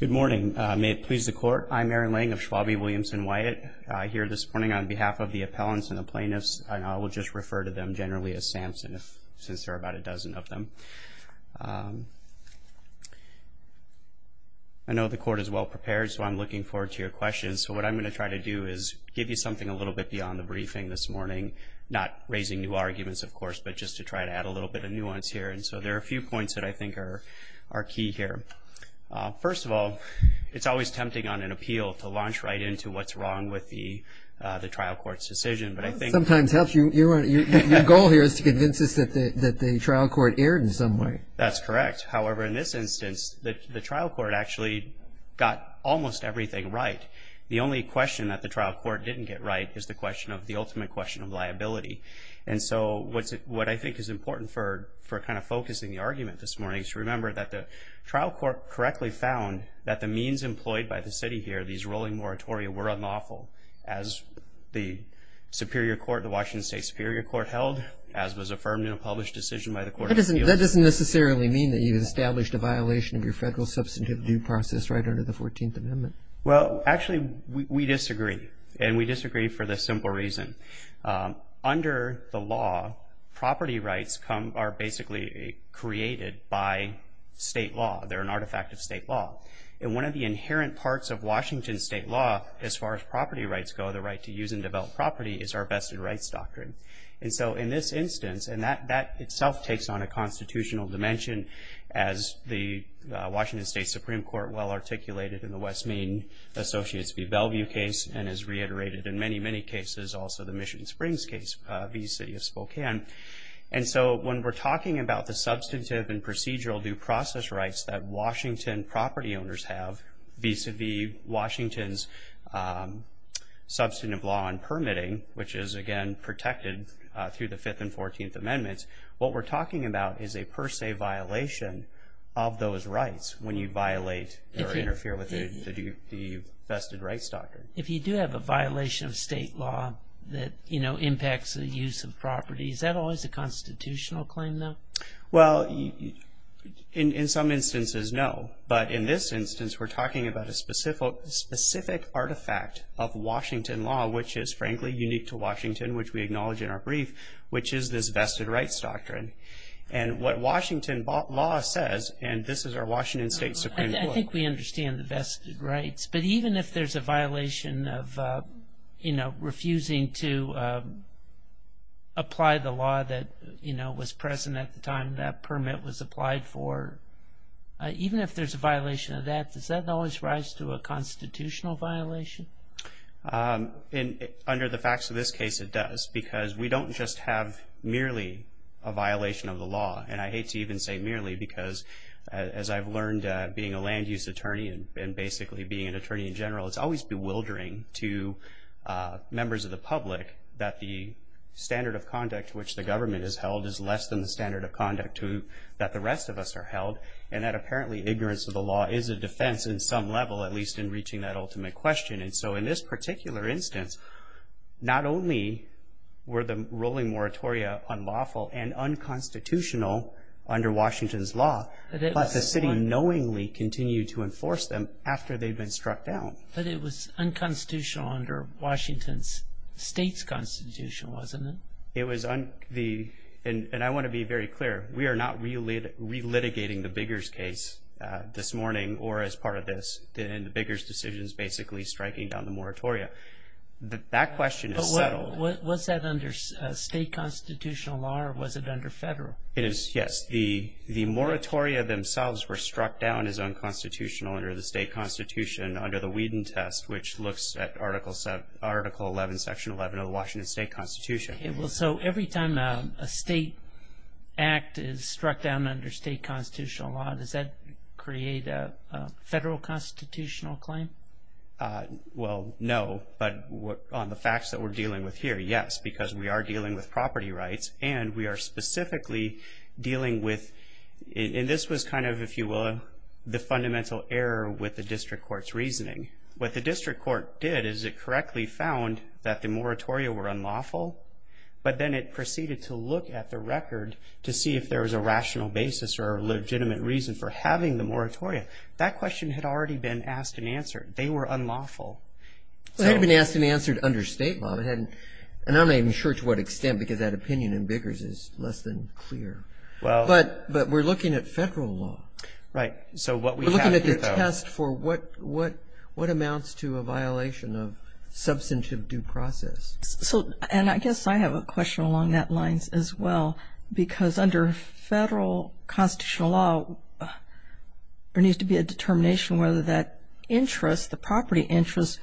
Good morning, may it please the court. I'm Aaron Lang of Schwabie Williamson Wyatt here this morning on behalf of the appellants and the plaintiffs and I will just refer to them generally as Samson since there are about a dozen of them. I know the court is well prepared so I'm looking forward to your questions. So what I'm going to try to do is give you something a little bit beyond the briefing this morning, not raising new arguments of course, but just to try to add a little bit of nuance here and so there are a few points that I think are key here. First of all, it's always tempting on an appeal to launch right into what's wrong with the the trial court's decision. But I think sometimes helps you, your goal here is to convince us that the that the trial court erred in some way. That's correct, however in this instance that the trial court actually got almost everything right. The only question that the trial court didn't get right is the question of the ultimate question of liability and so what's it what I think is important for for kind of focusing the argument this morning is remember that the trial court correctly found that the means employed by the city here, these rolling moratoria, were unlawful as the Superior Court, the Washington State Superior Court, held as was affirmed in a published decision by the court. That doesn't necessarily mean that you've established a violation of your federal substantive due process right under the 14th Amendment. Well actually we disagree and we disagree for the simple reason. Under the law, property rights come are basically created by state law. They're an artifact of state law and one of the inherent parts of Washington state law as far as property rights go, the right to use and develop property, is our vested rights doctrine. And so in this instance and that that itself takes on a constitutional dimension as the Washington State Supreme Court well articulated in the West Main Associates v. Bellevue case and is reiterated in many many cases also the Michigan Springs case v. City of Spokane. And so when we're talking about the substantive and procedural due process rights that Washington property owners have vis-a-vis Washington's substantive law and permitting, which is again protected through the 5th and 14th Amendments, what we're talking about is a per se violation of those rights when you violate or interfere with the vested rights doctrine. If you do have a violation of state law that you know impacts the use of property, is that always a constitutional claim though? Well in some instances no, but in this instance we're talking about a specific specific artifact of Washington law which is frankly unique to Washington which we acknowledge in our brief, which is this vested rights doctrine. And what Washington law says, and this is our Washington State Supreme Court. I think we there's a violation of, you know, refusing to apply the law that, you know, was present at the time that permit was applied for. Even if there's a violation of that, does that always rise to a constitutional violation? Under the facts of this case it does because we don't just have merely a violation of the law, and I hate to even say merely because as I've learned being a land-use attorney and basically being an attorney in general, it's always bewildering to members of the public that the standard of conduct which the government has held is less than the standard of conduct to that the rest of us are held. And that apparently ignorance of the law is a defense in some level, at least in reaching that ultimate question. And so in this particular instance, not only were the rolling moratoria unlawful and to enforce them after they've been struck down. But it was unconstitutional under Washington's state's constitution, wasn't it? It was, and I want to be very clear, we are not really re-litigating the Biggers case this morning or as part of this, and the Biggers decision is basically striking down the moratoria. That question is settled. Was that under state constitutional law or was it under federal? It is, yes. The moratoria themselves were struck down as unconstitutional under the state constitution under the Whedon test, which looks at article 11, section 11 of the Washington state constitution. So every time a state act is struck down under state constitutional law, does that create a federal constitutional claim? Well, no. But on the facts that we're dealing with here, yes. Because we are dealing with property rights and we are dealing with property rights. So that was kind of, if you will, the fundamental error with the district court's reasoning. What the district court did is it correctly found that the moratoria were unlawful, but then it proceeded to look at the record to see if there was a rational basis or a legitimate reason for having the moratoria. That question had already been asked and answered. They were unlawful. It had been asked and answered under state law, and I'm not even sure to what extent because that opinion in Biggers is less than clear. But we're looking at federal law. Right. So what we have here, though. We're looking at the test for what amounts to a violation of substantive due process. And I guess I have a question along that lines as well, because under federal constitutional law, there needs to be a determination whether that interest, the property interest,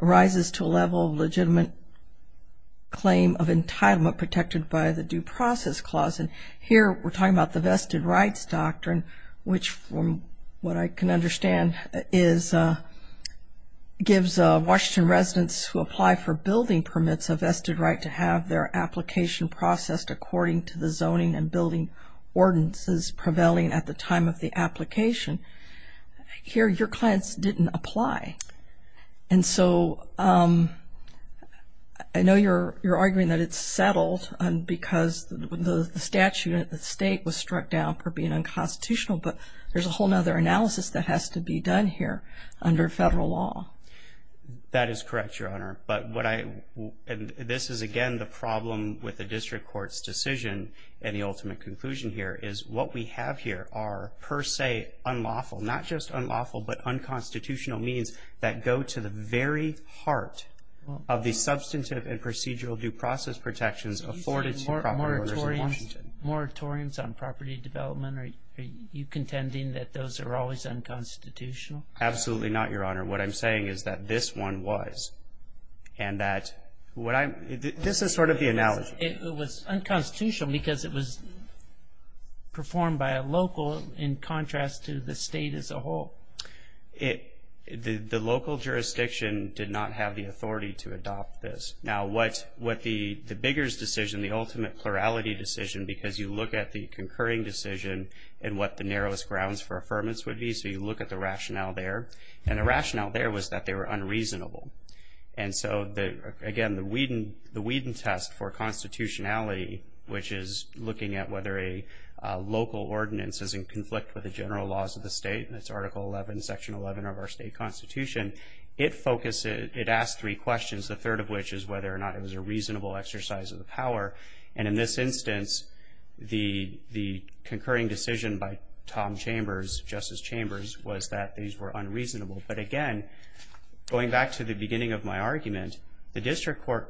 rises to a level of legitimate claim of entitlement protected by the due process clause. And here we're talking about the vested rights doctrine, which from what I can understand gives Washington residents who apply for building permits a vested right to have their application processed according to the zoning and building ordinances prevailing at the time of the application. Here, your clients didn't apply. And so I know you're arguing that it's settled because the statute at stake was struck down for being unconstitutional. But there's a whole nother analysis that has to be done here under federal law. That is correct, Your Honor. But what I and this is again the problem with the district court's decision and the ultimate conclusion here is what we have here are per se unlawful, not just unlawful, but unconstitutional means that go to the very heart of the substantive and procedural due process protections afforded to property owners in Washington. Moratoriums on property development. Are you contending that those are always unconstitutional? Absolutely not, Your Honor. What I'm saying is that this one was and that what I'm this is sort of the analogy. It was unconstitutional because it was performed by a local in contrast to the state as a whole. The local jurisdiction did not have the authority to adopt this. Now what the Biggers decision, the ultimate plurality decision, because you look at the concurring decision and what the narrowest grounds for affirmance would be, so you look at the rationale there. And the rationale there was that they were unreasonable. And so that again the Whedon test for constitutionality which is looking at whether a local ordinance is in conflict with the general laws of the state and it's article 11 section 11 of our state constitution. It focuses, it asked three questions, the third of which is whether or not it was a reasonable exercise of the power. And in this instance, the the concurring decision by Tom Chambers, Justice Chambers, was that these were unreasonable. But again, going back to the beginning of my story,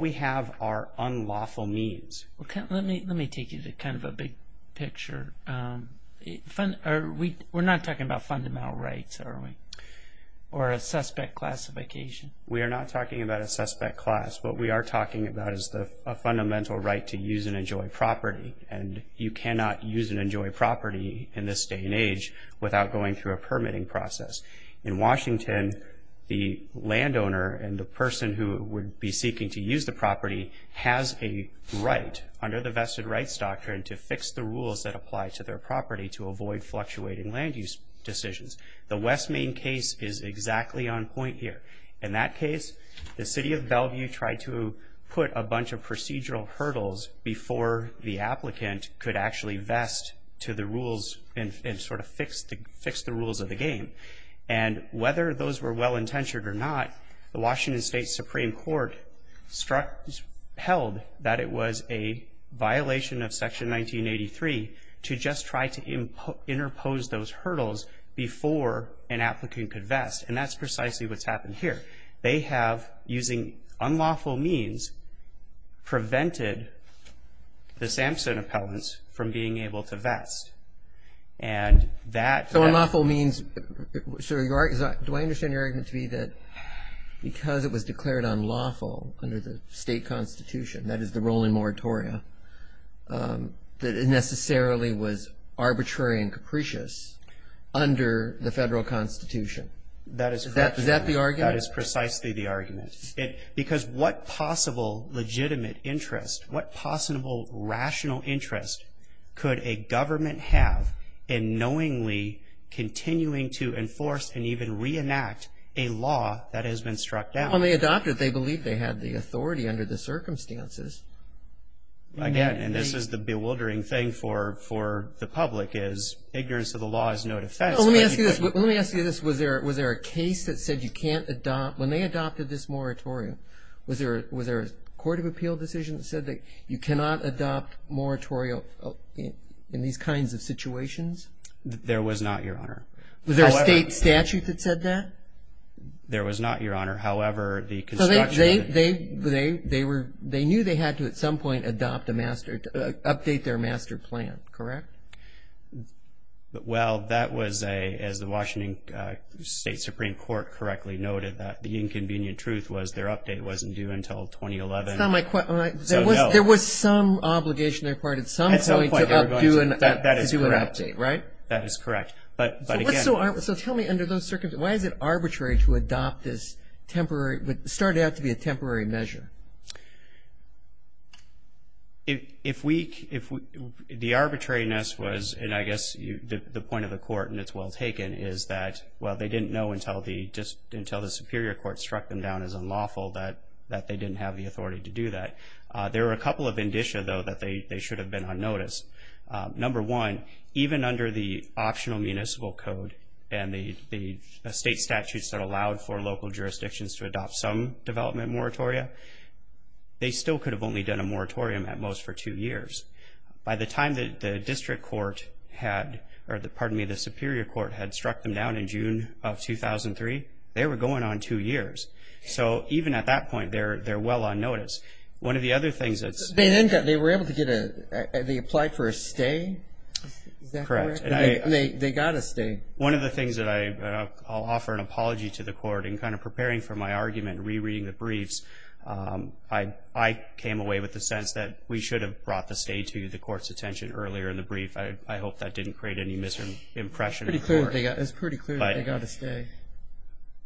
we have our unlawful means. Let me take you to kind of a big picture. We're not talking about fundamental rights, are we? Or a suspect classification? We are not talking about a suspect class. What we are talking about is a fundamental right to use and enjoy property. And you cannot use and enjoy property in this day and age without going through a permitting process. In Washington, the landowner and the person who would be seeking to use the property has a right under the vested rights doctrine to fix the rules that apply to their property to avoid fluctuating land use decisions. The West Main case is exactly on point here. In that case, the city of Bellevue tried to put a bunch of procedural hurdles before the applicant could actually vest to the rules and sort of fix the rules of the game. And whether those were well-intentioned or not, the Washington State Supreme Court held that it was a violation of Section 1983 to just try to interpose those hurdles before an applicant could vest. And that's precisely what's happened here. They have, using unlawful means, prevented the Sampson appellants from being able to vest. And that So unlawful means, so do I understand your argument to be that because it was declared unlawful under the state constitution, that is the rolling moratoria, that it necessarily was arbitrary and capricious under the federal constitution? That is correct. Is that the argument? That is precisely the argument. Because what possible legitimate interest, what possible rational interest could a government have in knowingly continuing to enforce and even reenact a law that has been struck down? Well, they adopted it. They believed they had the authority under the circumstances. Again, and this is the bewildering thing for the public, is ignorance of the law is no defense. Well, let me ask you this. Was there a case that said you can't adopt, when they adopted this moratorium, was there a court of appeal decision that said you cannot adopt moratoria in these kinds of situations? There was not, Your Honor. Was there a state statute that said that? There was not, Your Honor. However, the construction... They knew they had to, at some point, adopt a master, update their master plan, correct? Well, that was, as the Washington State Supreme Court correctly noted, that the inconvenient truth was their update wasn't due until 2011. There was some obligation they required at some point to do an update, right? That is correct. But again... So tell me, under those circumstances, why is it arbitrary to adopt this temporary, what started out to be a temporary measure? The arbitrariness was, and I guess the point of the court, and it's well taken, is that, well, they didn't know until the Superior Court struck them down as unlawful that they didn't have the authority to do that. There were a couple of indicia, though, that they should have been on notice. Number one, even under the Optional Municipal Code and the state statutes that allowed for local jurisdictions to adopt some development moratoria, they still could have only done a moratorium, at most, for two years. By the time that the District Court had... Or, pardon me, the Superior Court had struck them down in June of 2003, they were going on two years. So even at that point, they're well on notice. One of the other things that's... They then got... They were able to get a... They applied for a stay? Is that correct? Correct. And they got a stay. One of the things that I... I'll offer an apology to the court in kind of preparing for my argument, rereading the briefs, I came away with the sense that we should have brought the stay to the court's attention earlier in the brief. I hope that didn't create any misimpression in the court. It's pretty clear that they got a stay.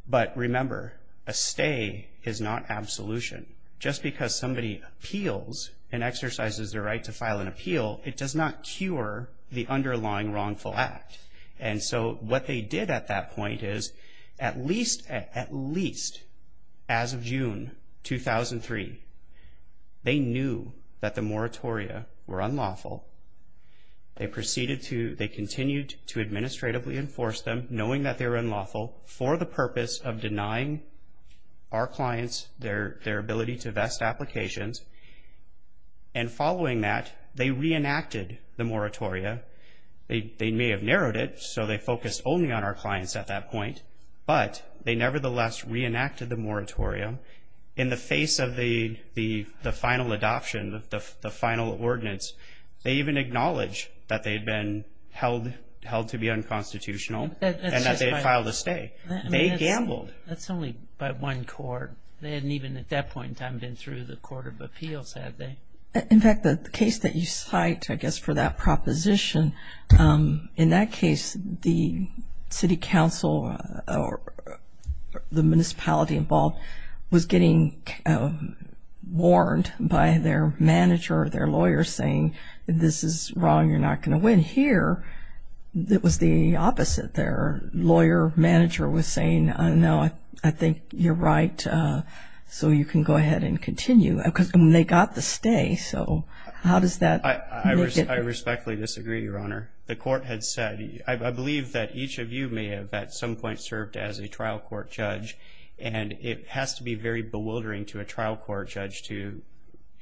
But remember, a stay is not absolution. Just because somebody appeals and exercises their right to file an appeal, it does not cure the underlying wrongful act. And so what they did at that point is, at least, at least, as of June 2003, they knew that the moratoria were unlawful. They proceeded to... They continued to administratively enforce them, knowing that they were unlawful, for the purpose of denying our clients their ability to vest applications. And following that, they reenacted the moratoria. They may have narrowed it, so they focused only on our clients at that point, but they nevertheless reenacted the moratorium. In the face of the final adoption, the final ordinance, they even acknowledged that they'd been held to be unconstitutional, and that they had filed a stay. They gambled. That's only by one court. They hadn't even, at that point in time, been through the Court of Appeals, had they? In fact, the case that you cite, I guess, for that proposition, in that case, the city council or the municipality involved was getting warned by their manager or their lawyer, saying, this is wrong, you're not gonna win. Here, it was the opposite. Their lawyer manager was saying, no, I think you're right, so you can go ahead and continue. Because they got the stay, so how does that make it... I respectfully disagree, Your Honor. The court had said... I believe that each of you may have, at some point, served as a trial court judge, and it has to be very bewildering to a trial court judge to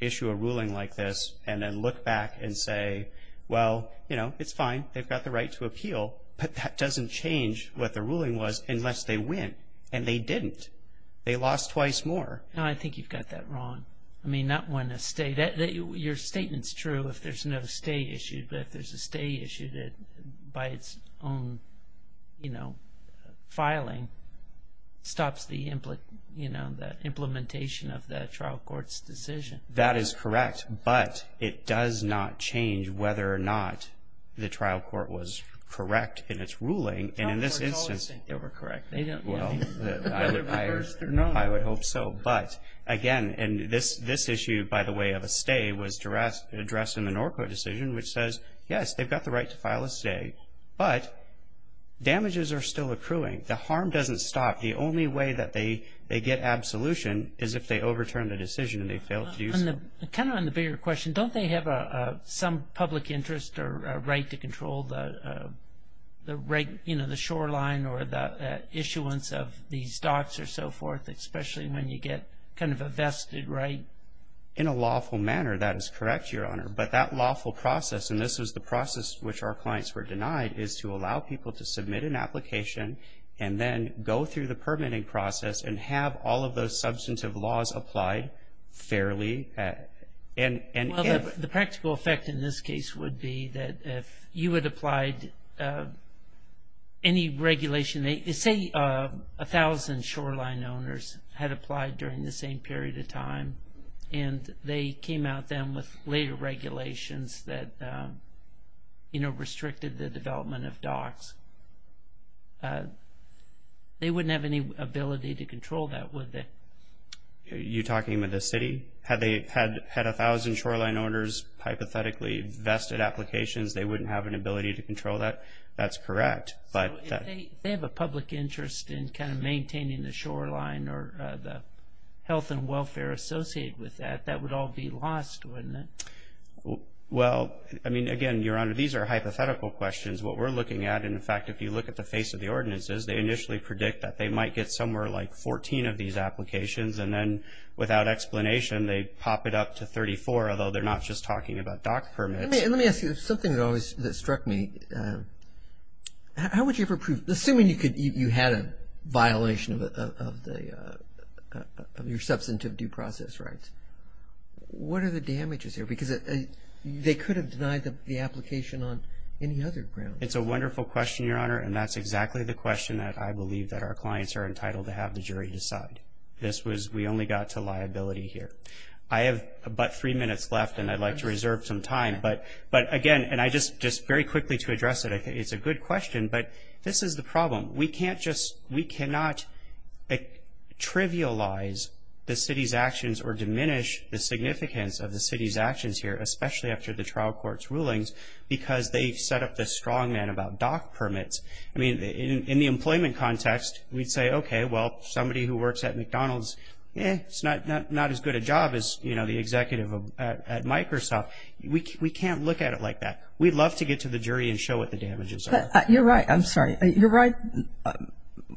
issue a ruling like this, and then look back and say, well, it's fine, they've got the right to appeal, but that doesn't change what the ruling was, unless they win. And they didn't. They lost twice more. No, I think you've got that wrong. I mean, not when a stay... Your statement's true if there's no stay issued, but if there's a stay issued by its own filing, stops the implementation of the trial court's decision. That is correct, but it does not change whether or not the trial court was correct in its ruling, and in this instance... Trial courts always think they were correct. They don't... Well, I would hope so. But again, and this issue, by the way, of a stay was addressed in the Norco decision, which says, yes, they've got the right to file a stay, but damages are still accruing. The harm doesn't stop. The only way that they get absolution is if they overturn the decision and they fail to do so. And kind of on the bigger question, don't they have some public interest or right to control the shoreline or the issuance of these docks or so forth, especially when you get kind of a vested right? In a lawful manner, that is correct, Your Honor, but that lawful process, and this was the side, is to allow people to submit an application and then go through the permitting process and have all of those substantive laws applied fairly and... Well, the practical effect in this case would be that if you had applied any regulation... Say 1,000 shoreline owners had applied during the same period of time, and they came out then with later regulations that restricted the development of docks, they wouldn't have any ability to control that, would they? You're talking about the city? Had they had 1,000 shoreline owners hypothetically vested applications, they wouldn't have an ability to control that? That's correct, but... If they have a public interest in kind of maintaining the shoreline or the health and welfare associated with that, that would all be lost, wouldn't it? Well, I mean, again, Your Honor, these are hypothetical questions. What we're looking at, in fact, if you look at the face of the ordinances, they initially predict that they might get somewhere like 14 of these applications, and then without explanation, they pop it up to 34, although they're not just talking about dock permits. Let me ask you something that always struck me. How would you ever prove... Assuming you had a violation of your substantive due process rights, what are the damages here? Because they could have denied the application on any other ground. It's a wonderful question, Your Honor, and that's exactly the question that I believe that our clients are entitled to have the jury decide. This was... We only got to liability here. I have about three minutes left, and I'd like to reserve some time, but again, and I just... Just very quickly to address it, it's a good question, but this is the problem. We can't just... the significance of the city's actions here, especially after the trial court's rulings, because they've set up this strongman about dock permits. I mean, in the employment context, we'd say, okay, well, somebody who works at McDonald's, eh, it's not as good a job as the executive at Microsoft. We can't look at it like that. We'd love to get to the jury and show what the damages are. You're right. I'm sorry. You're right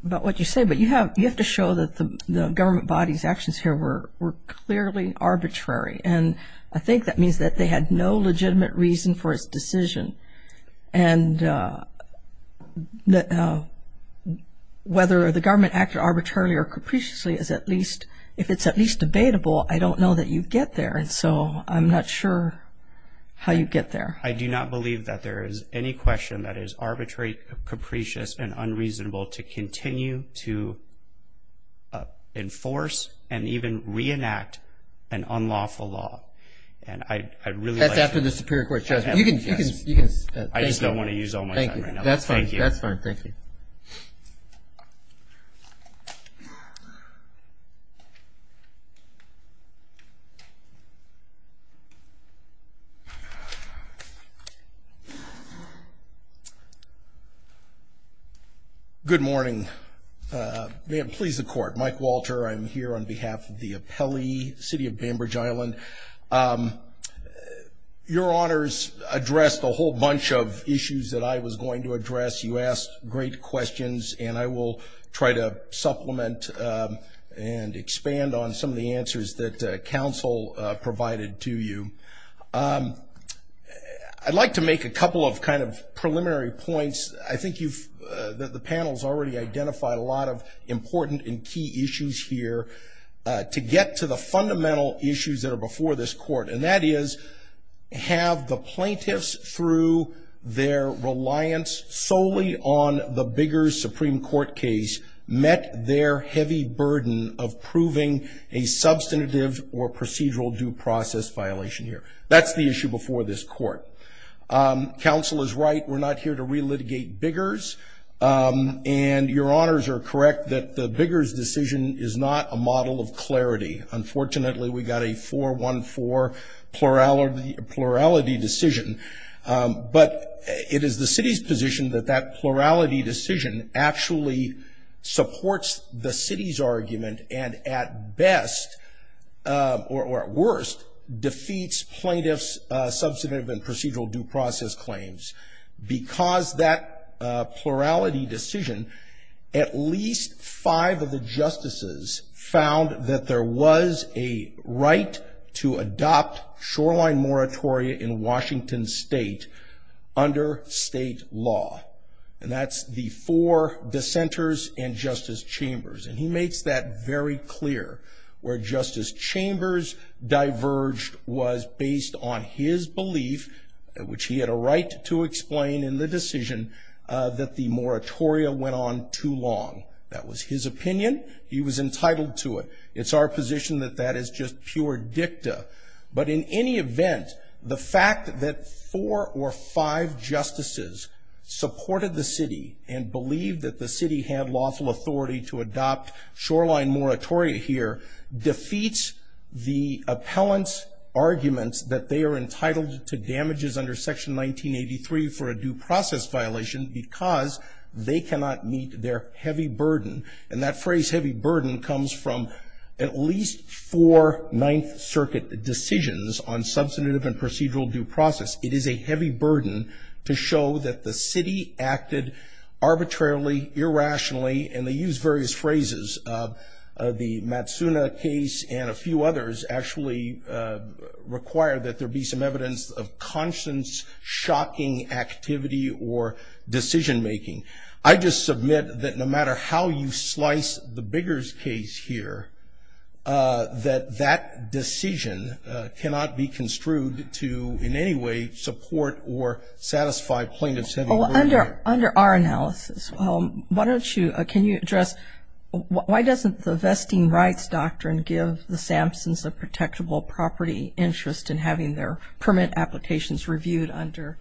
about what you say, but you have to show that the government body's actions here were clearly arbitrary, and I think that means that they had no legitimate reason for its decision, and whether the government acted arbitrarily or capriciously is at least... If it's at least debatable, I don't know that you'd get there, and so I'm not sure how you get there. I do not believe that there is any question that is arbitrary, capricious, and unreasonable to continue to enforce and even reenact an unlawful law, and I really... That's after the Superior Court judgment. You can... I just don't want to use all my time right now. That's fine. That's fine. Thank you. Good morning. May it please the Court. Mike Walter. I'm here on behalf of the appellee, City of Bainbridge Island. Your Honors addressed a whole bunch of issues that I was going to address. You asked great questions, and I will try to supplement and expand on some of the answers that counsel provided to you. I'd like to make a couple of kind of preliminary points. I think you've... The panels already identify a lot of important and key issues here. To get to the fundamental issues that are before this Court, and that is, have the plaintiffs, through their reliance solely on the bigger Supreme Court case, met their heavy burden of proving a substantive or procedural due process violation here. That's the issue before this Court. Counsel is right. We're not here to re-litigate Biggers, and your Honors are correct that the Biggers decision is not a model of clarity. Unfortunately, we got a 4-1-4 plurality decision, but it is the City's position that that plurality decision actually supports the City's argument and at best, or at worst, defeats plaintiffs' substantive and procedural due process claims. Because that plurality decision, at least five of the justices found that there was a right to adopt shoreline moratoria in Washington State under state law. And that's the four dissenters in Justice Chambers. And he makes that very clear. Where Justice Chambers diverged was based on his belief, which he had a right to explain in the decision, that the moratoria went on too long. That was his opinion. He was entitled to it. It's our position that that is just pure dicta. But in any event, the fact that four or five justices supported the City and believed that the City had lawful authority to adopt shoreline moratoria here, defeats the appellant's arguments that they are entitled to damages under Section 1983 for a due process violation because they cannot meet their heavy burden. And that phrase, heavy burden, comes from at least four Ninth Circuit decisions on substantive and procedural due process. It is a heavy burden to show that the irrationally, and they use various phrases, the Matsuna case and a few others actually require that there be some evidence of conscience-shocking activity or decision-making. I just submit that no matter how you slice the Biggers case here, that that decision cannot be construed to in any way support or satisfy plaintiffs' heavy burden. Under our analysis, why don't you, can you address, why doesn't the Vesting Rights Doctrine give the Sampsons a protectable property interest in having their permit applications reviewed under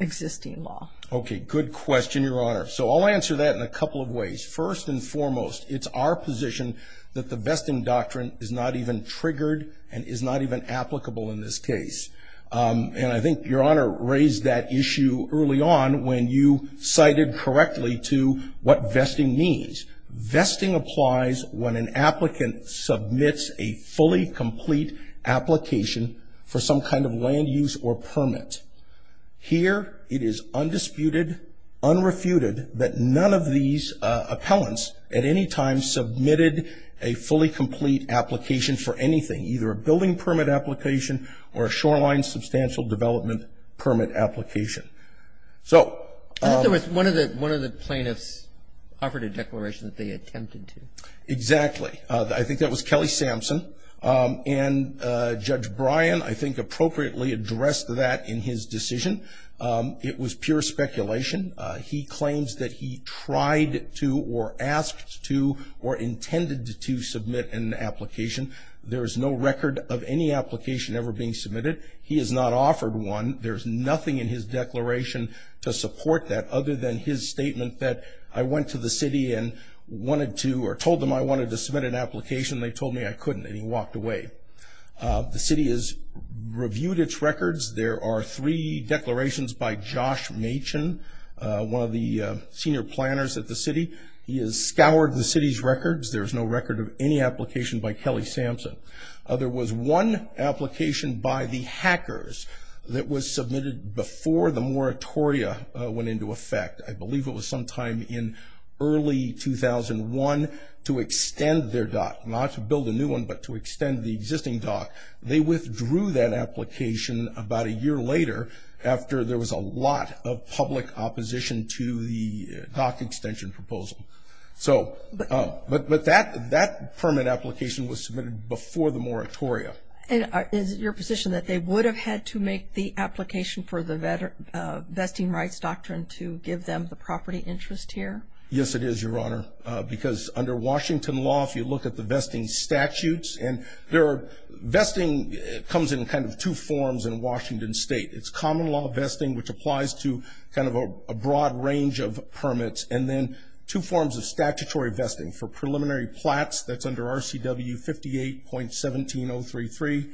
existing law? Okay, good question, Your Honor. So I'll answer that in a couple of ways. First and foremost, it's our position that the Vesting Doctrine is not even triggered and is not even applicable in this case. And I think Your Honor raised that issue early on when you cited correctly to what vesting means. Vesting applies when an applicant submits a fully complete application for some kind of land use or permit. Here, it is undisputed, unrefuted, that none of these either a building permit application or a shoreline substantial development permit application. So… I think there was one of the, one of the plaintiffs offered a declaration that they attempted to. Exactly. I think that was Kelly Sampson. And Judge Bryan, I think, appropriately addressed that in his decision. It was pure speculation. He claims that he tried it to or asked to or intended to submit an application. There is no record of any application ever being submitted. He has not offered one. There's nothing in his declaration to support that other than his statement that, I went to the city and wanted to, or told them I wanted to submit an application. They told me I couldn't and he walked away. The city has reviewed its records. There are three planners at the city. He has scoured the city's records. There's no record of any application by Kelly Sampson. There was one application by the hackers that was submitted before the moratoria went into effect. I believe it was sometime in early 2001 to extend their dock, not to build a new one, but to extend the existing dock. They withdrew that application about a year later after there was a lot of public opposition to the dock extension proposal. So, but, but that, that permit application was submitted before the moratoria. And is it your position that they would have had to make the application for the vesting rights doctrine to give them the property interest here? Yes, it is, Your Honor. Because under Washington law, if you look at the vesting statutes, and there are, vesting comes in kind of two forms in Washington State. It's common law vesting, which applies to kind of a broad range of permits, and then two forms of statutory vesting for preliminary plats, that's under RCW 58.17033,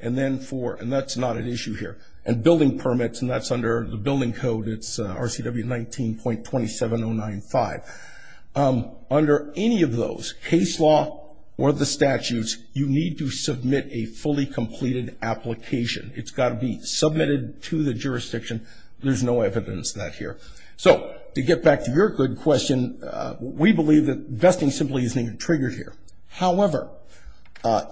and then for, and that's not at issue here, and building permits, and that's under the building code, it's RCW 19.27095. Under any of those, case law or the statutes, you need to submit a fully completed application. It's got to be submitted to the jurisdiction. There's no evidence that here. So, to get back to your good question, we believe that vesting simply isn't even triggered here. However,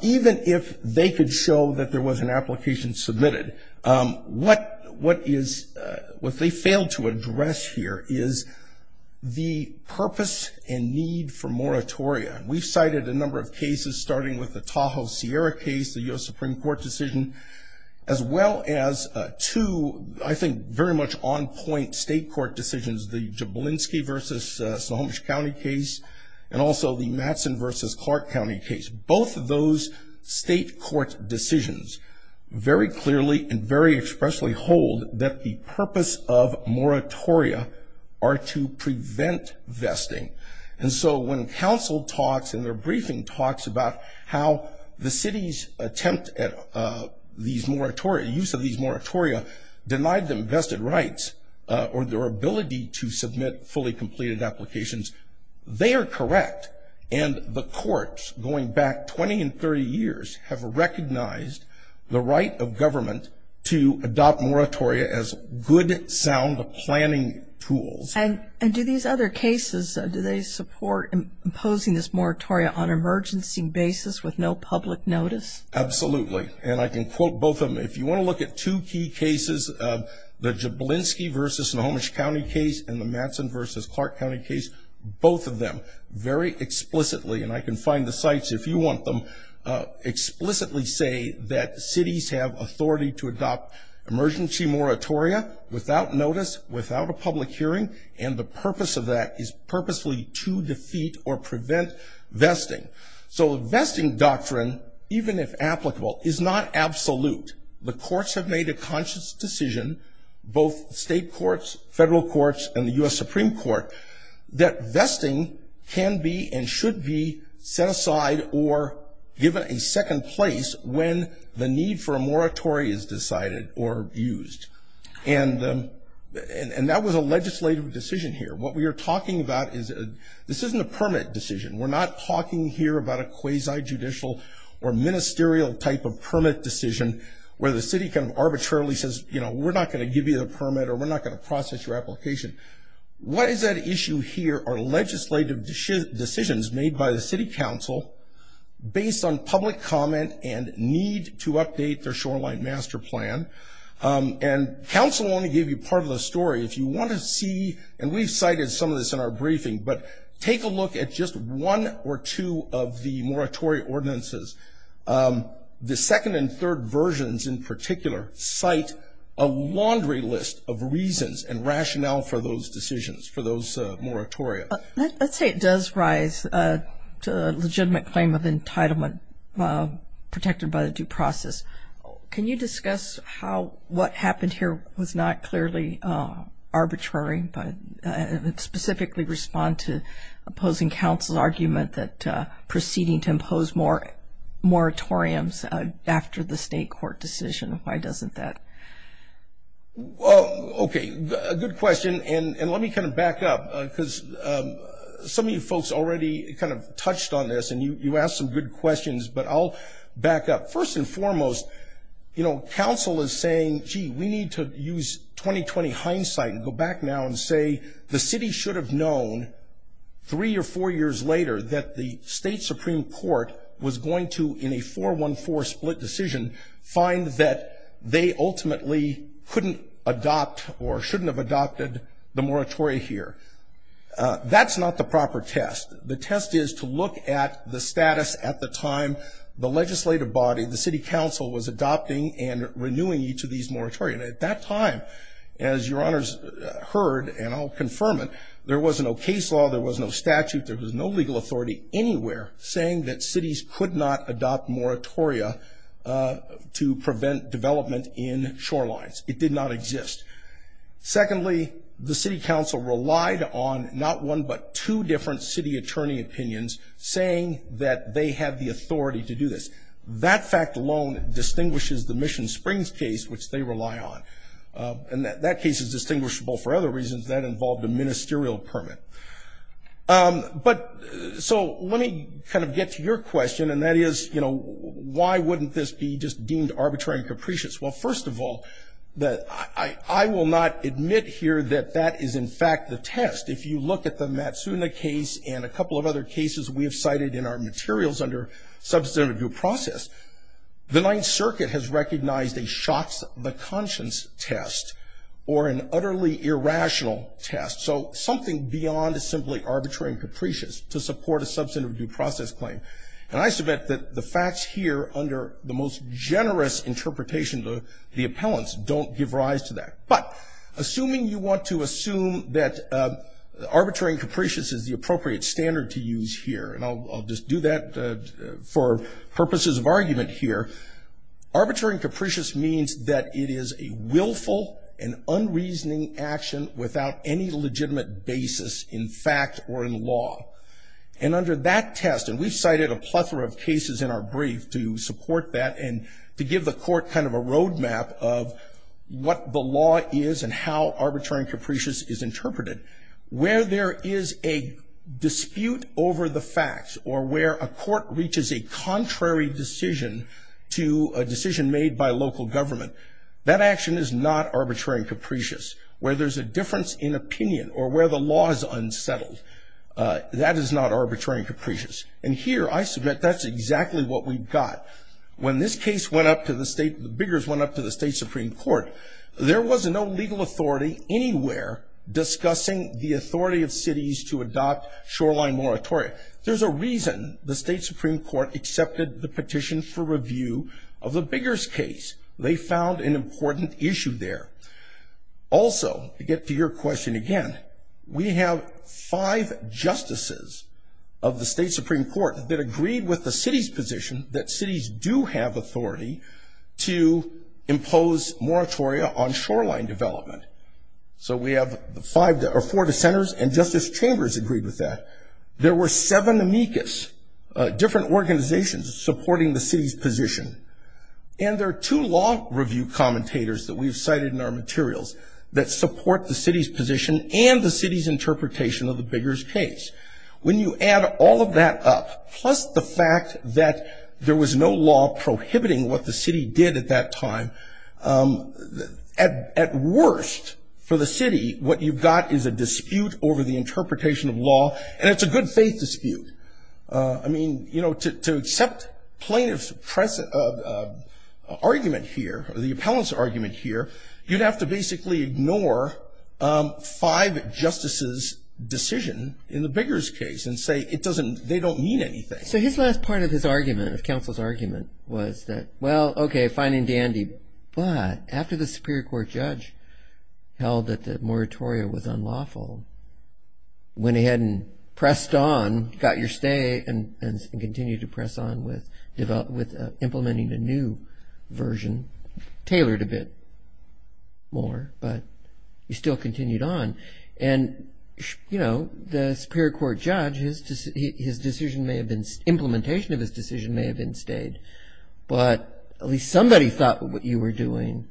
even if they could show that there was an application submitted, what, what is, what they failed to address here is the purpose and need for moratoria. We've cited a number of cases, starting with the Tahoe Sierra case, the U.S. Supreme Court decision, as well as two, I think, very much on point state court decisions, the Jablinski versus Snohomish County case, and also the Mattson versus Clark County case. Both of those state court decisions very clearly and very expressly hold that the purpose of moratoria are to prevent vesting. And so, when council talks and their briefing talks about how the city's attempt at these moratoria, use of these moratoria, denied them vested rights or their ability to submit fully completed applications, they are correct. And the courts, going back 20 and 30 years, have recognized the right of government to adopt moratoria as good, sound planning tools. And, and do these other cases, do they support imposing this moratoria on emergency basis with no public notice? Absolutely. And I can quote both of them. If you want to look at two key cases, the Jablinski versus Snohomish County case and the Mattson versus Clark County case, both of them very explicitly, and I can find the sites if you want them, explicitly say that cities have authority to adopt emergency moratoria without notice, without a public hearing, and the purpose of that is purposely to defeat or deny that the doctrine, even if applicable, is not absolute. The courts have made a conscious decision, both state courts, federal courts, and the U.S. Supreme Court, that vesting can be and should be set aside or given a second place when the need for a moratoria is decided or used. And, and that was a legislative decision here. What we are talking about is, this isn't a permit decision. We're not talking here about a quasi-judicial or ministerial type of permit decision where the city kind of arbitrarily says, you know, we're not going to give you the permit or we're not going to process your application. What is at issue here are legislative decisions made by the city council based on public comment and need to update their shoreline master plan. And council only gave you part of the story. If you want to see, and we've cited some of this in our briefing, but take a look at just one or two of the moratoria ordinances. The second and third versions in particular cite a laundry list of reasons and rationale for those decisions, for those moratoria. Let's say it does rise to a legitimate claim of entitlement protected by the due process. Can you discuss how what happened here was not clearly arbitrary but specifically respond to opposing council argument that proceeding to impose more moratoriums after the state court decision, why doesn't that? Okay, good question. And let me kind of back up because some of you folks already kind of touched on this and you asked some good questions, but I'll back up. First and foremost, you know, council is saying, gee, we need to use 2020 hindsight and go back now and say the city should have known three or four years later that the state supreme court was going to, in a 4-1-4 split decision, find that they ultimately couldn't adopt or shouldn't have adopted the moratoria here. That's not the proper test. The test is to look at the status at the time the legislative body, the city council, was adopting and renewing each of these moratoria. And at that time, as your honors heard, and I'll confirm it, there was no case law, there was no statute, there was no legal authority anywhere saying that cities could not adopt moratoria to prevent development in shorelines. It did not exist. Secondly, the city council relied on not one but two different city attorney opinions saying that they have the authority to do this. That fact alone distinguishes the Mission Springs case, which they rely on. And that case is distinguishable for other reasons that involved a ministerial permit. But so let me kind of get to your question, and that is, you know, why wouldn't this be just deemed arbitrary and capricious? Well, first of all, I will not admit here that that is in fact the test. If you look at the Matsuna case and a couple of other cases we have cited in our materials under substantive due process, the Ninth Circuit has recognized a fact that shocks the conscience test, or an utterly irrational test. So something beyond simply arbitrary and capricious to support a substantive due process claim. And I submit that the facts here under the most generous interpretation of the appellants don't give rise to that. But assuming you want to assume that arbitrary and capricious is the appropriate standard to use here, and I'll just do that for purposes of argument here. Arbitrary and capricious means that it is a willful and unreasoning action without any legitimate basis in fact or in law. And under that test, and we've cited a plethora of cases in our brief to support that and to give the court kind of a road map of what the law is and how arbitrary and capricious is interpreted. Where there is a dispute over the facts or where a court reaches a contrary decision to a government, that action is not arbitrary and capricious. Where there's a difference in opinion or where the law is unsettled, that is not arbitrary and capricious. And here I submit that's exactly what we've got. When this case went up to the state, the Biggers went up to the state Supreme Court, there was no legal authority anywhere discussing the authority of cities to adopt shoreline moratorium. There's a reason the state Supreme Court accepted the petition for review of the Biggers case. They found an important issue there. Also, to get to your question again, we have five justices of the state Supreme Court that agreed with the city's position that cities do have authority to impose moratoria on shoreline development. So we have four dissenters and Justice Chambers agreed with that. There were seven amicus, different organizations supporting the city's position. And there are two law review commentators that we've cited in our materials that support the city's position and the city's interpretation of the Biggers case. When you add all of that up, plus the fact that there was no law prohibiting what the city did at that time, at worst for the city, what you've got is a dispute over the city. To accept plaintiff's argument here, the appellant's argument here, you'd have to basically ignore five justices' decision in the Biggers case and say they don't mean anything. So his last part of his argument, of counsel's argument, was that, well, okay, fine and dandy, but after the Supreme Court judge held that the moratoria was unlawful, went ahead and got your stay and continued to press on with implementing a new version, tailored a bit more, but you still continued on. And the Superior Court judge, his decision may have been... Implementation of his decision may have been stayed, but at least somebody thought what you were doing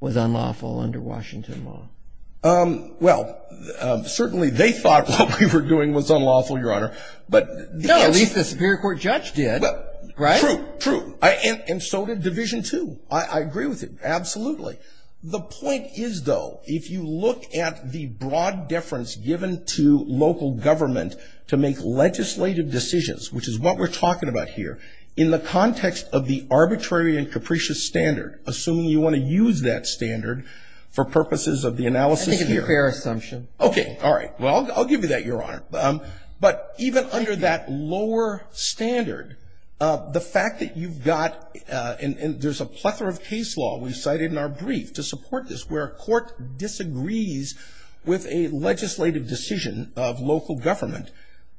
was unlawful under Washington law. Well, certainly they thought what we were doing was unlawful, Your Honor. No, at least the Superior Court judge did, right? True, true. And so did Division 2. I agree with it, absolutely. The point is, though, if you look at the broad deference given to local government to make legislative decisions, which is what we're talking about here, in the context of the arbitrary and capricious standard, assuming you wanna use that standard for purposes of the analysis here... I think it's a fair assumption. Okay. All right. Well, I'll give you that, Your Honor. But even under that lower standard, the fact that you've got... And there's a plethora of case law we've cited in our brief to support this, where a court disagrees with a legislative decision of local government.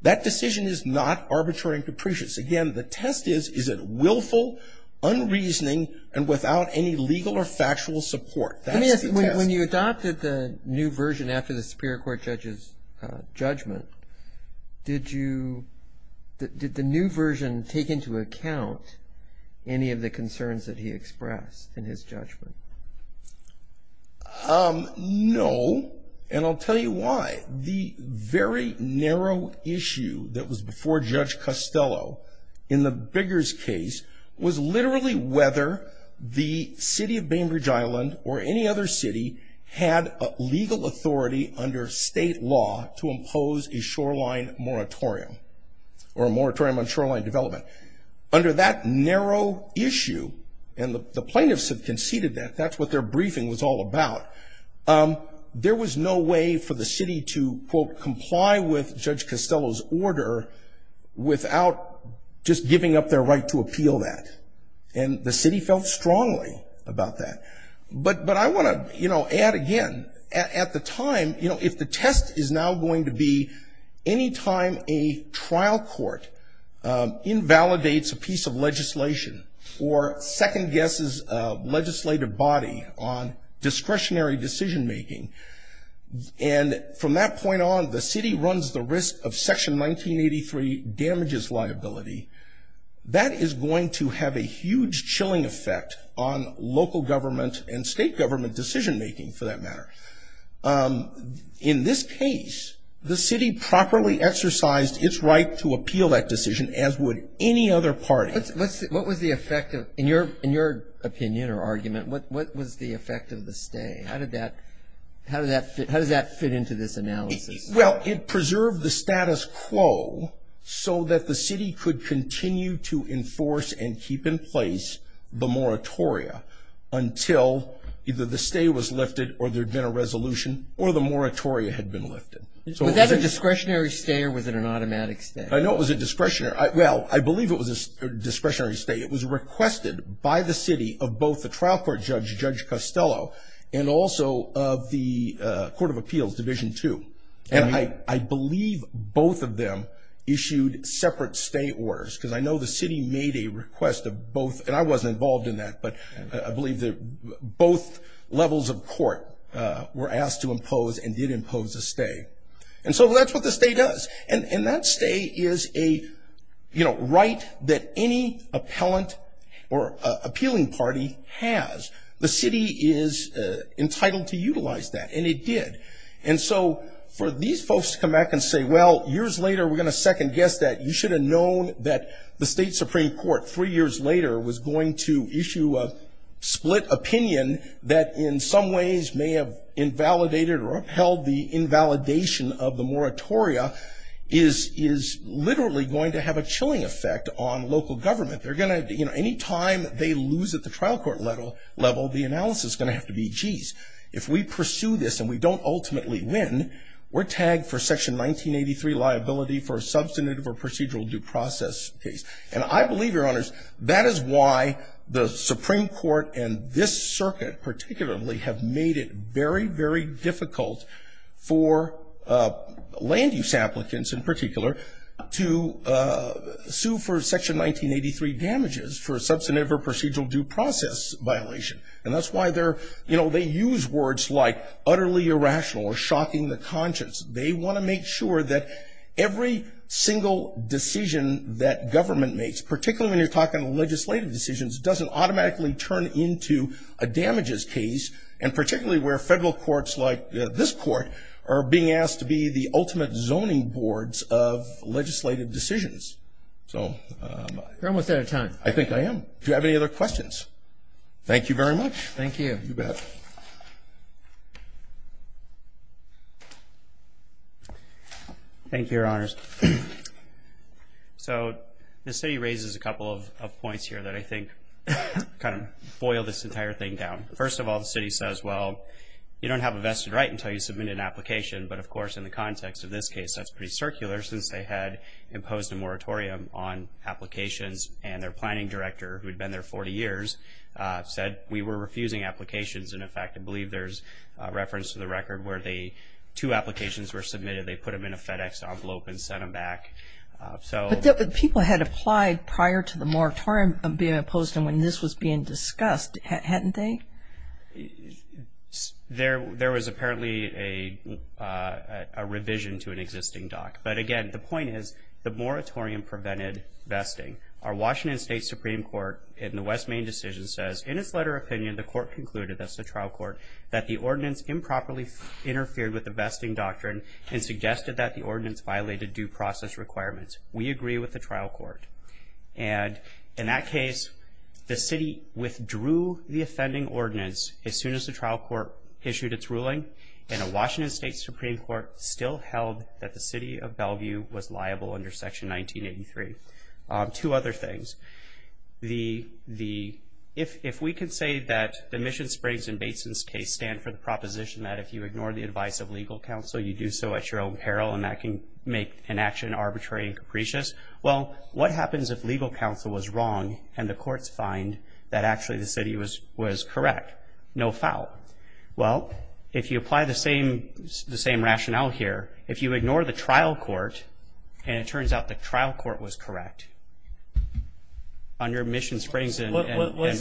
That decision is not arbitrary and capricious. Again, the test is, is it willful, unreasoning, and without any legal or factual support? That's the test. Let me ask you, when you adopted the new version after the Superior Court judge's judgment, did you... Did the new version take into account any of the concerns that he expressed in his judgment? No, and I'll tell you why. The very narrow issue that was before Judge Costello in the Biggers case was literally whether the city of Bainbridge Island or any other city had legal authority under state law to impose a shoreline moratorium, or a moratorium on shoreline development. Under that narrow issue, and the plaintiffs have conceded that that's what their briefing was all about, there was no way for the city to, quote, comply with Judge Costello's order without just giving up their right to appeal that. And the But, but I want to, you know, add again, at, at the time, you know, if the test is now going to be any time a trial court invalidates a piece of legislation, or second guesses a legislative body on discretionary decision making, and from that point on, the city runs the risk of Section 1983 damages liability, that is going to have a huge chilling effect on local government and state government decision making, for that matter. In this case, the city properly exercised its right to appeal that decision, as would any other party. What's, what's, what was the effect of, in your, in your opinion or argument, what, what was the effect of the stay? How did that, how did that fit, how does that fit into this analysis? Well, it preserved the status quo so that the city could continue to enforce and keep in place the until either the stay was lifted, or there'd been a resolution, or the moratoria had been lifted. So was that a discretionary stay, or was it an automatic stay? I know it was a discretionary, well, I believe it was a discretionary stay. It was requested by the city of both the trial court judge, Judge Costello, and also of the Court of Appeals, Division 2. And I, I believe both of them issued separate stay orders, because I know the city made a request to both, and I wasn't involved in that, but I believe that both levels of court were asked to impose and did impose a stay. And so that's what the stay does. And, and that stay is a, you know, right that any appellant or appealing party has. The city is entitled to utilize that, and it did. And so, for these folks to come back and say, well, years later we're going to second guess that, you should have known that the state supreme court three years later was going to issue a split opinion that in some ways may have invalidated or upheld the invalidation of the moratoria, is, is literally going to have a chilling effect on local government. They're going to, you know, any time they lose at the trial court level, the analysis is going to have to be, geez, if we pursue this and we don't ultimately win, we're tagged for section 1983 liability for a substantive or procedural due process case. And I believe, your honors, that is why the supreme court and this circuit particularly have made it very, very difficult for land use applicants in particular to sue for section 1983 damages for a substantive or procedural due process violation. And that's why they're, you know, they use words like utterly irrational or shocking the conscience. They want to make sure that every single decision that government makes, particularly when you're talking to legislative decisions, doesn't automatically turn into a damages case. And particularly where federal courts like this court are being asked to be the ultimate zoning boards of legislative decisions. So, um, you're almost out of time. I think I am. Do you have any other questions? Thank you very much. Thank you. Thank you, your honors. So the city raises a couple of points here that I think kind of boil this entire thing down. First of all, the city says, well, you don't have a vested right until you submit an application. But of course, in the context of this case, that's pretty circular since they had imposed a moratorium on applications and their planning director, who had been there 40 years, said we were refusing applications. And in fact, I believe there's reference to the record where the two applications were submitted. They put them in a FedEx envelope and sent them back. But people had applied prior to the moratorium being imposed. And when this was being discussed, hadn't they? There was apparently a revision to an existing doc. But again, the point is, the moratorium prevented vesting. Our Washington State Supreme Court in the West Main decision says, in its letter of opinion, the court concluded, that's interfered with the vesting doctrine and suggested that the ordinance violated due process requirements. We agree with the trial court. And in that case, the city withdrew the offending ordinance as soon as the trial court issued its ruling. And the Washington State Supreme Court still held that the city of Bellevue was liable under Section 1983. Two other things. If we can say that the you ignore the advice of legal counsel, you do so at your own peril, and that can make an action arbitrary and capricious. Well, what happens if legal counsel was wrong and the courts find that actually the city was correct? No foul. Well, if you apply the same rationale here, if you ignore the trial court, and it turns out the trial court was correct, on your mission springs and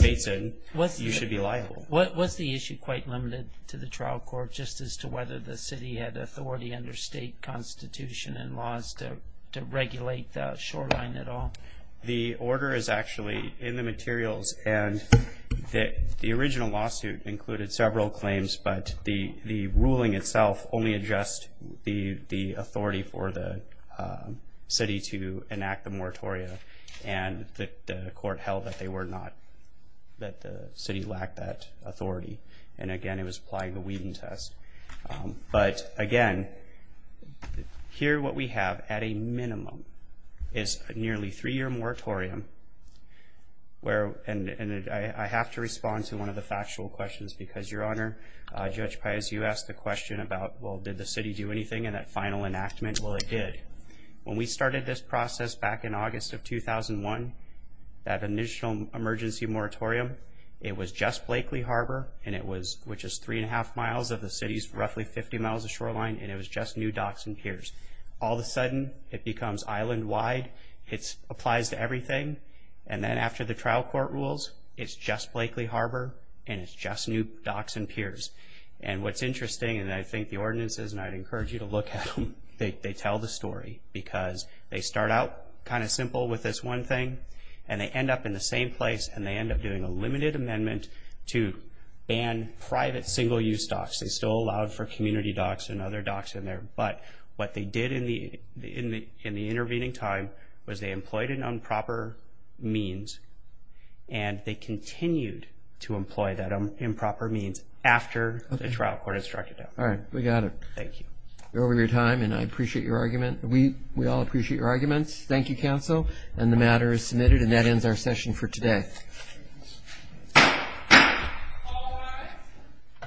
bates in, you should be liable. Was the issue quite limited to the trial court, just as to whether the city had authority under state constitution and laws to regulate the shoreline at all? The order is actually in the materials. And the original lawsuit included several claims, but the ruling itself only addressed the authority for the city to enact the moratorium. And the that the city lacked that authority. And again, it was applying the Whedon test. But again, here what we have, at a minimum, is a nearly three-year moratorium. And I have to respond to one of the factual questions, because, Your Honor, Judge Pius, you asked the question about, well, did the city do anything in that final enactment? Well, it did. When we started this process back in August of 2001, that initial emergency moratorium, it was just Blakely Harbor, which is three and a half miles of the city's roughly 50 miles of shoreline, and it was just new docks and piers. All of a sudden, it becomes island-wide. It applies to everything. And then after the trial court rules, it's just Blakely Harbor, and it's just new docks and piers. And what's interesting, and I think the ordinances, and I'd encourage you to look at them, they tell the story, because they start out kind of simple with this one thing, and they end up in the same place, and they end up doing a limited amendment to ban private single-use docks. They still allowed for community docks and other docks in there. But what they did in the intervening time was they employed an improper means, and they continued to employ that improper means after the trial court instructed them. All right. We got it. Thank you. You're over your time, and I appreciate your argument. We all appreciate your arguments. Thank you, counsel. And the matter is submitted, and that ends our session for today.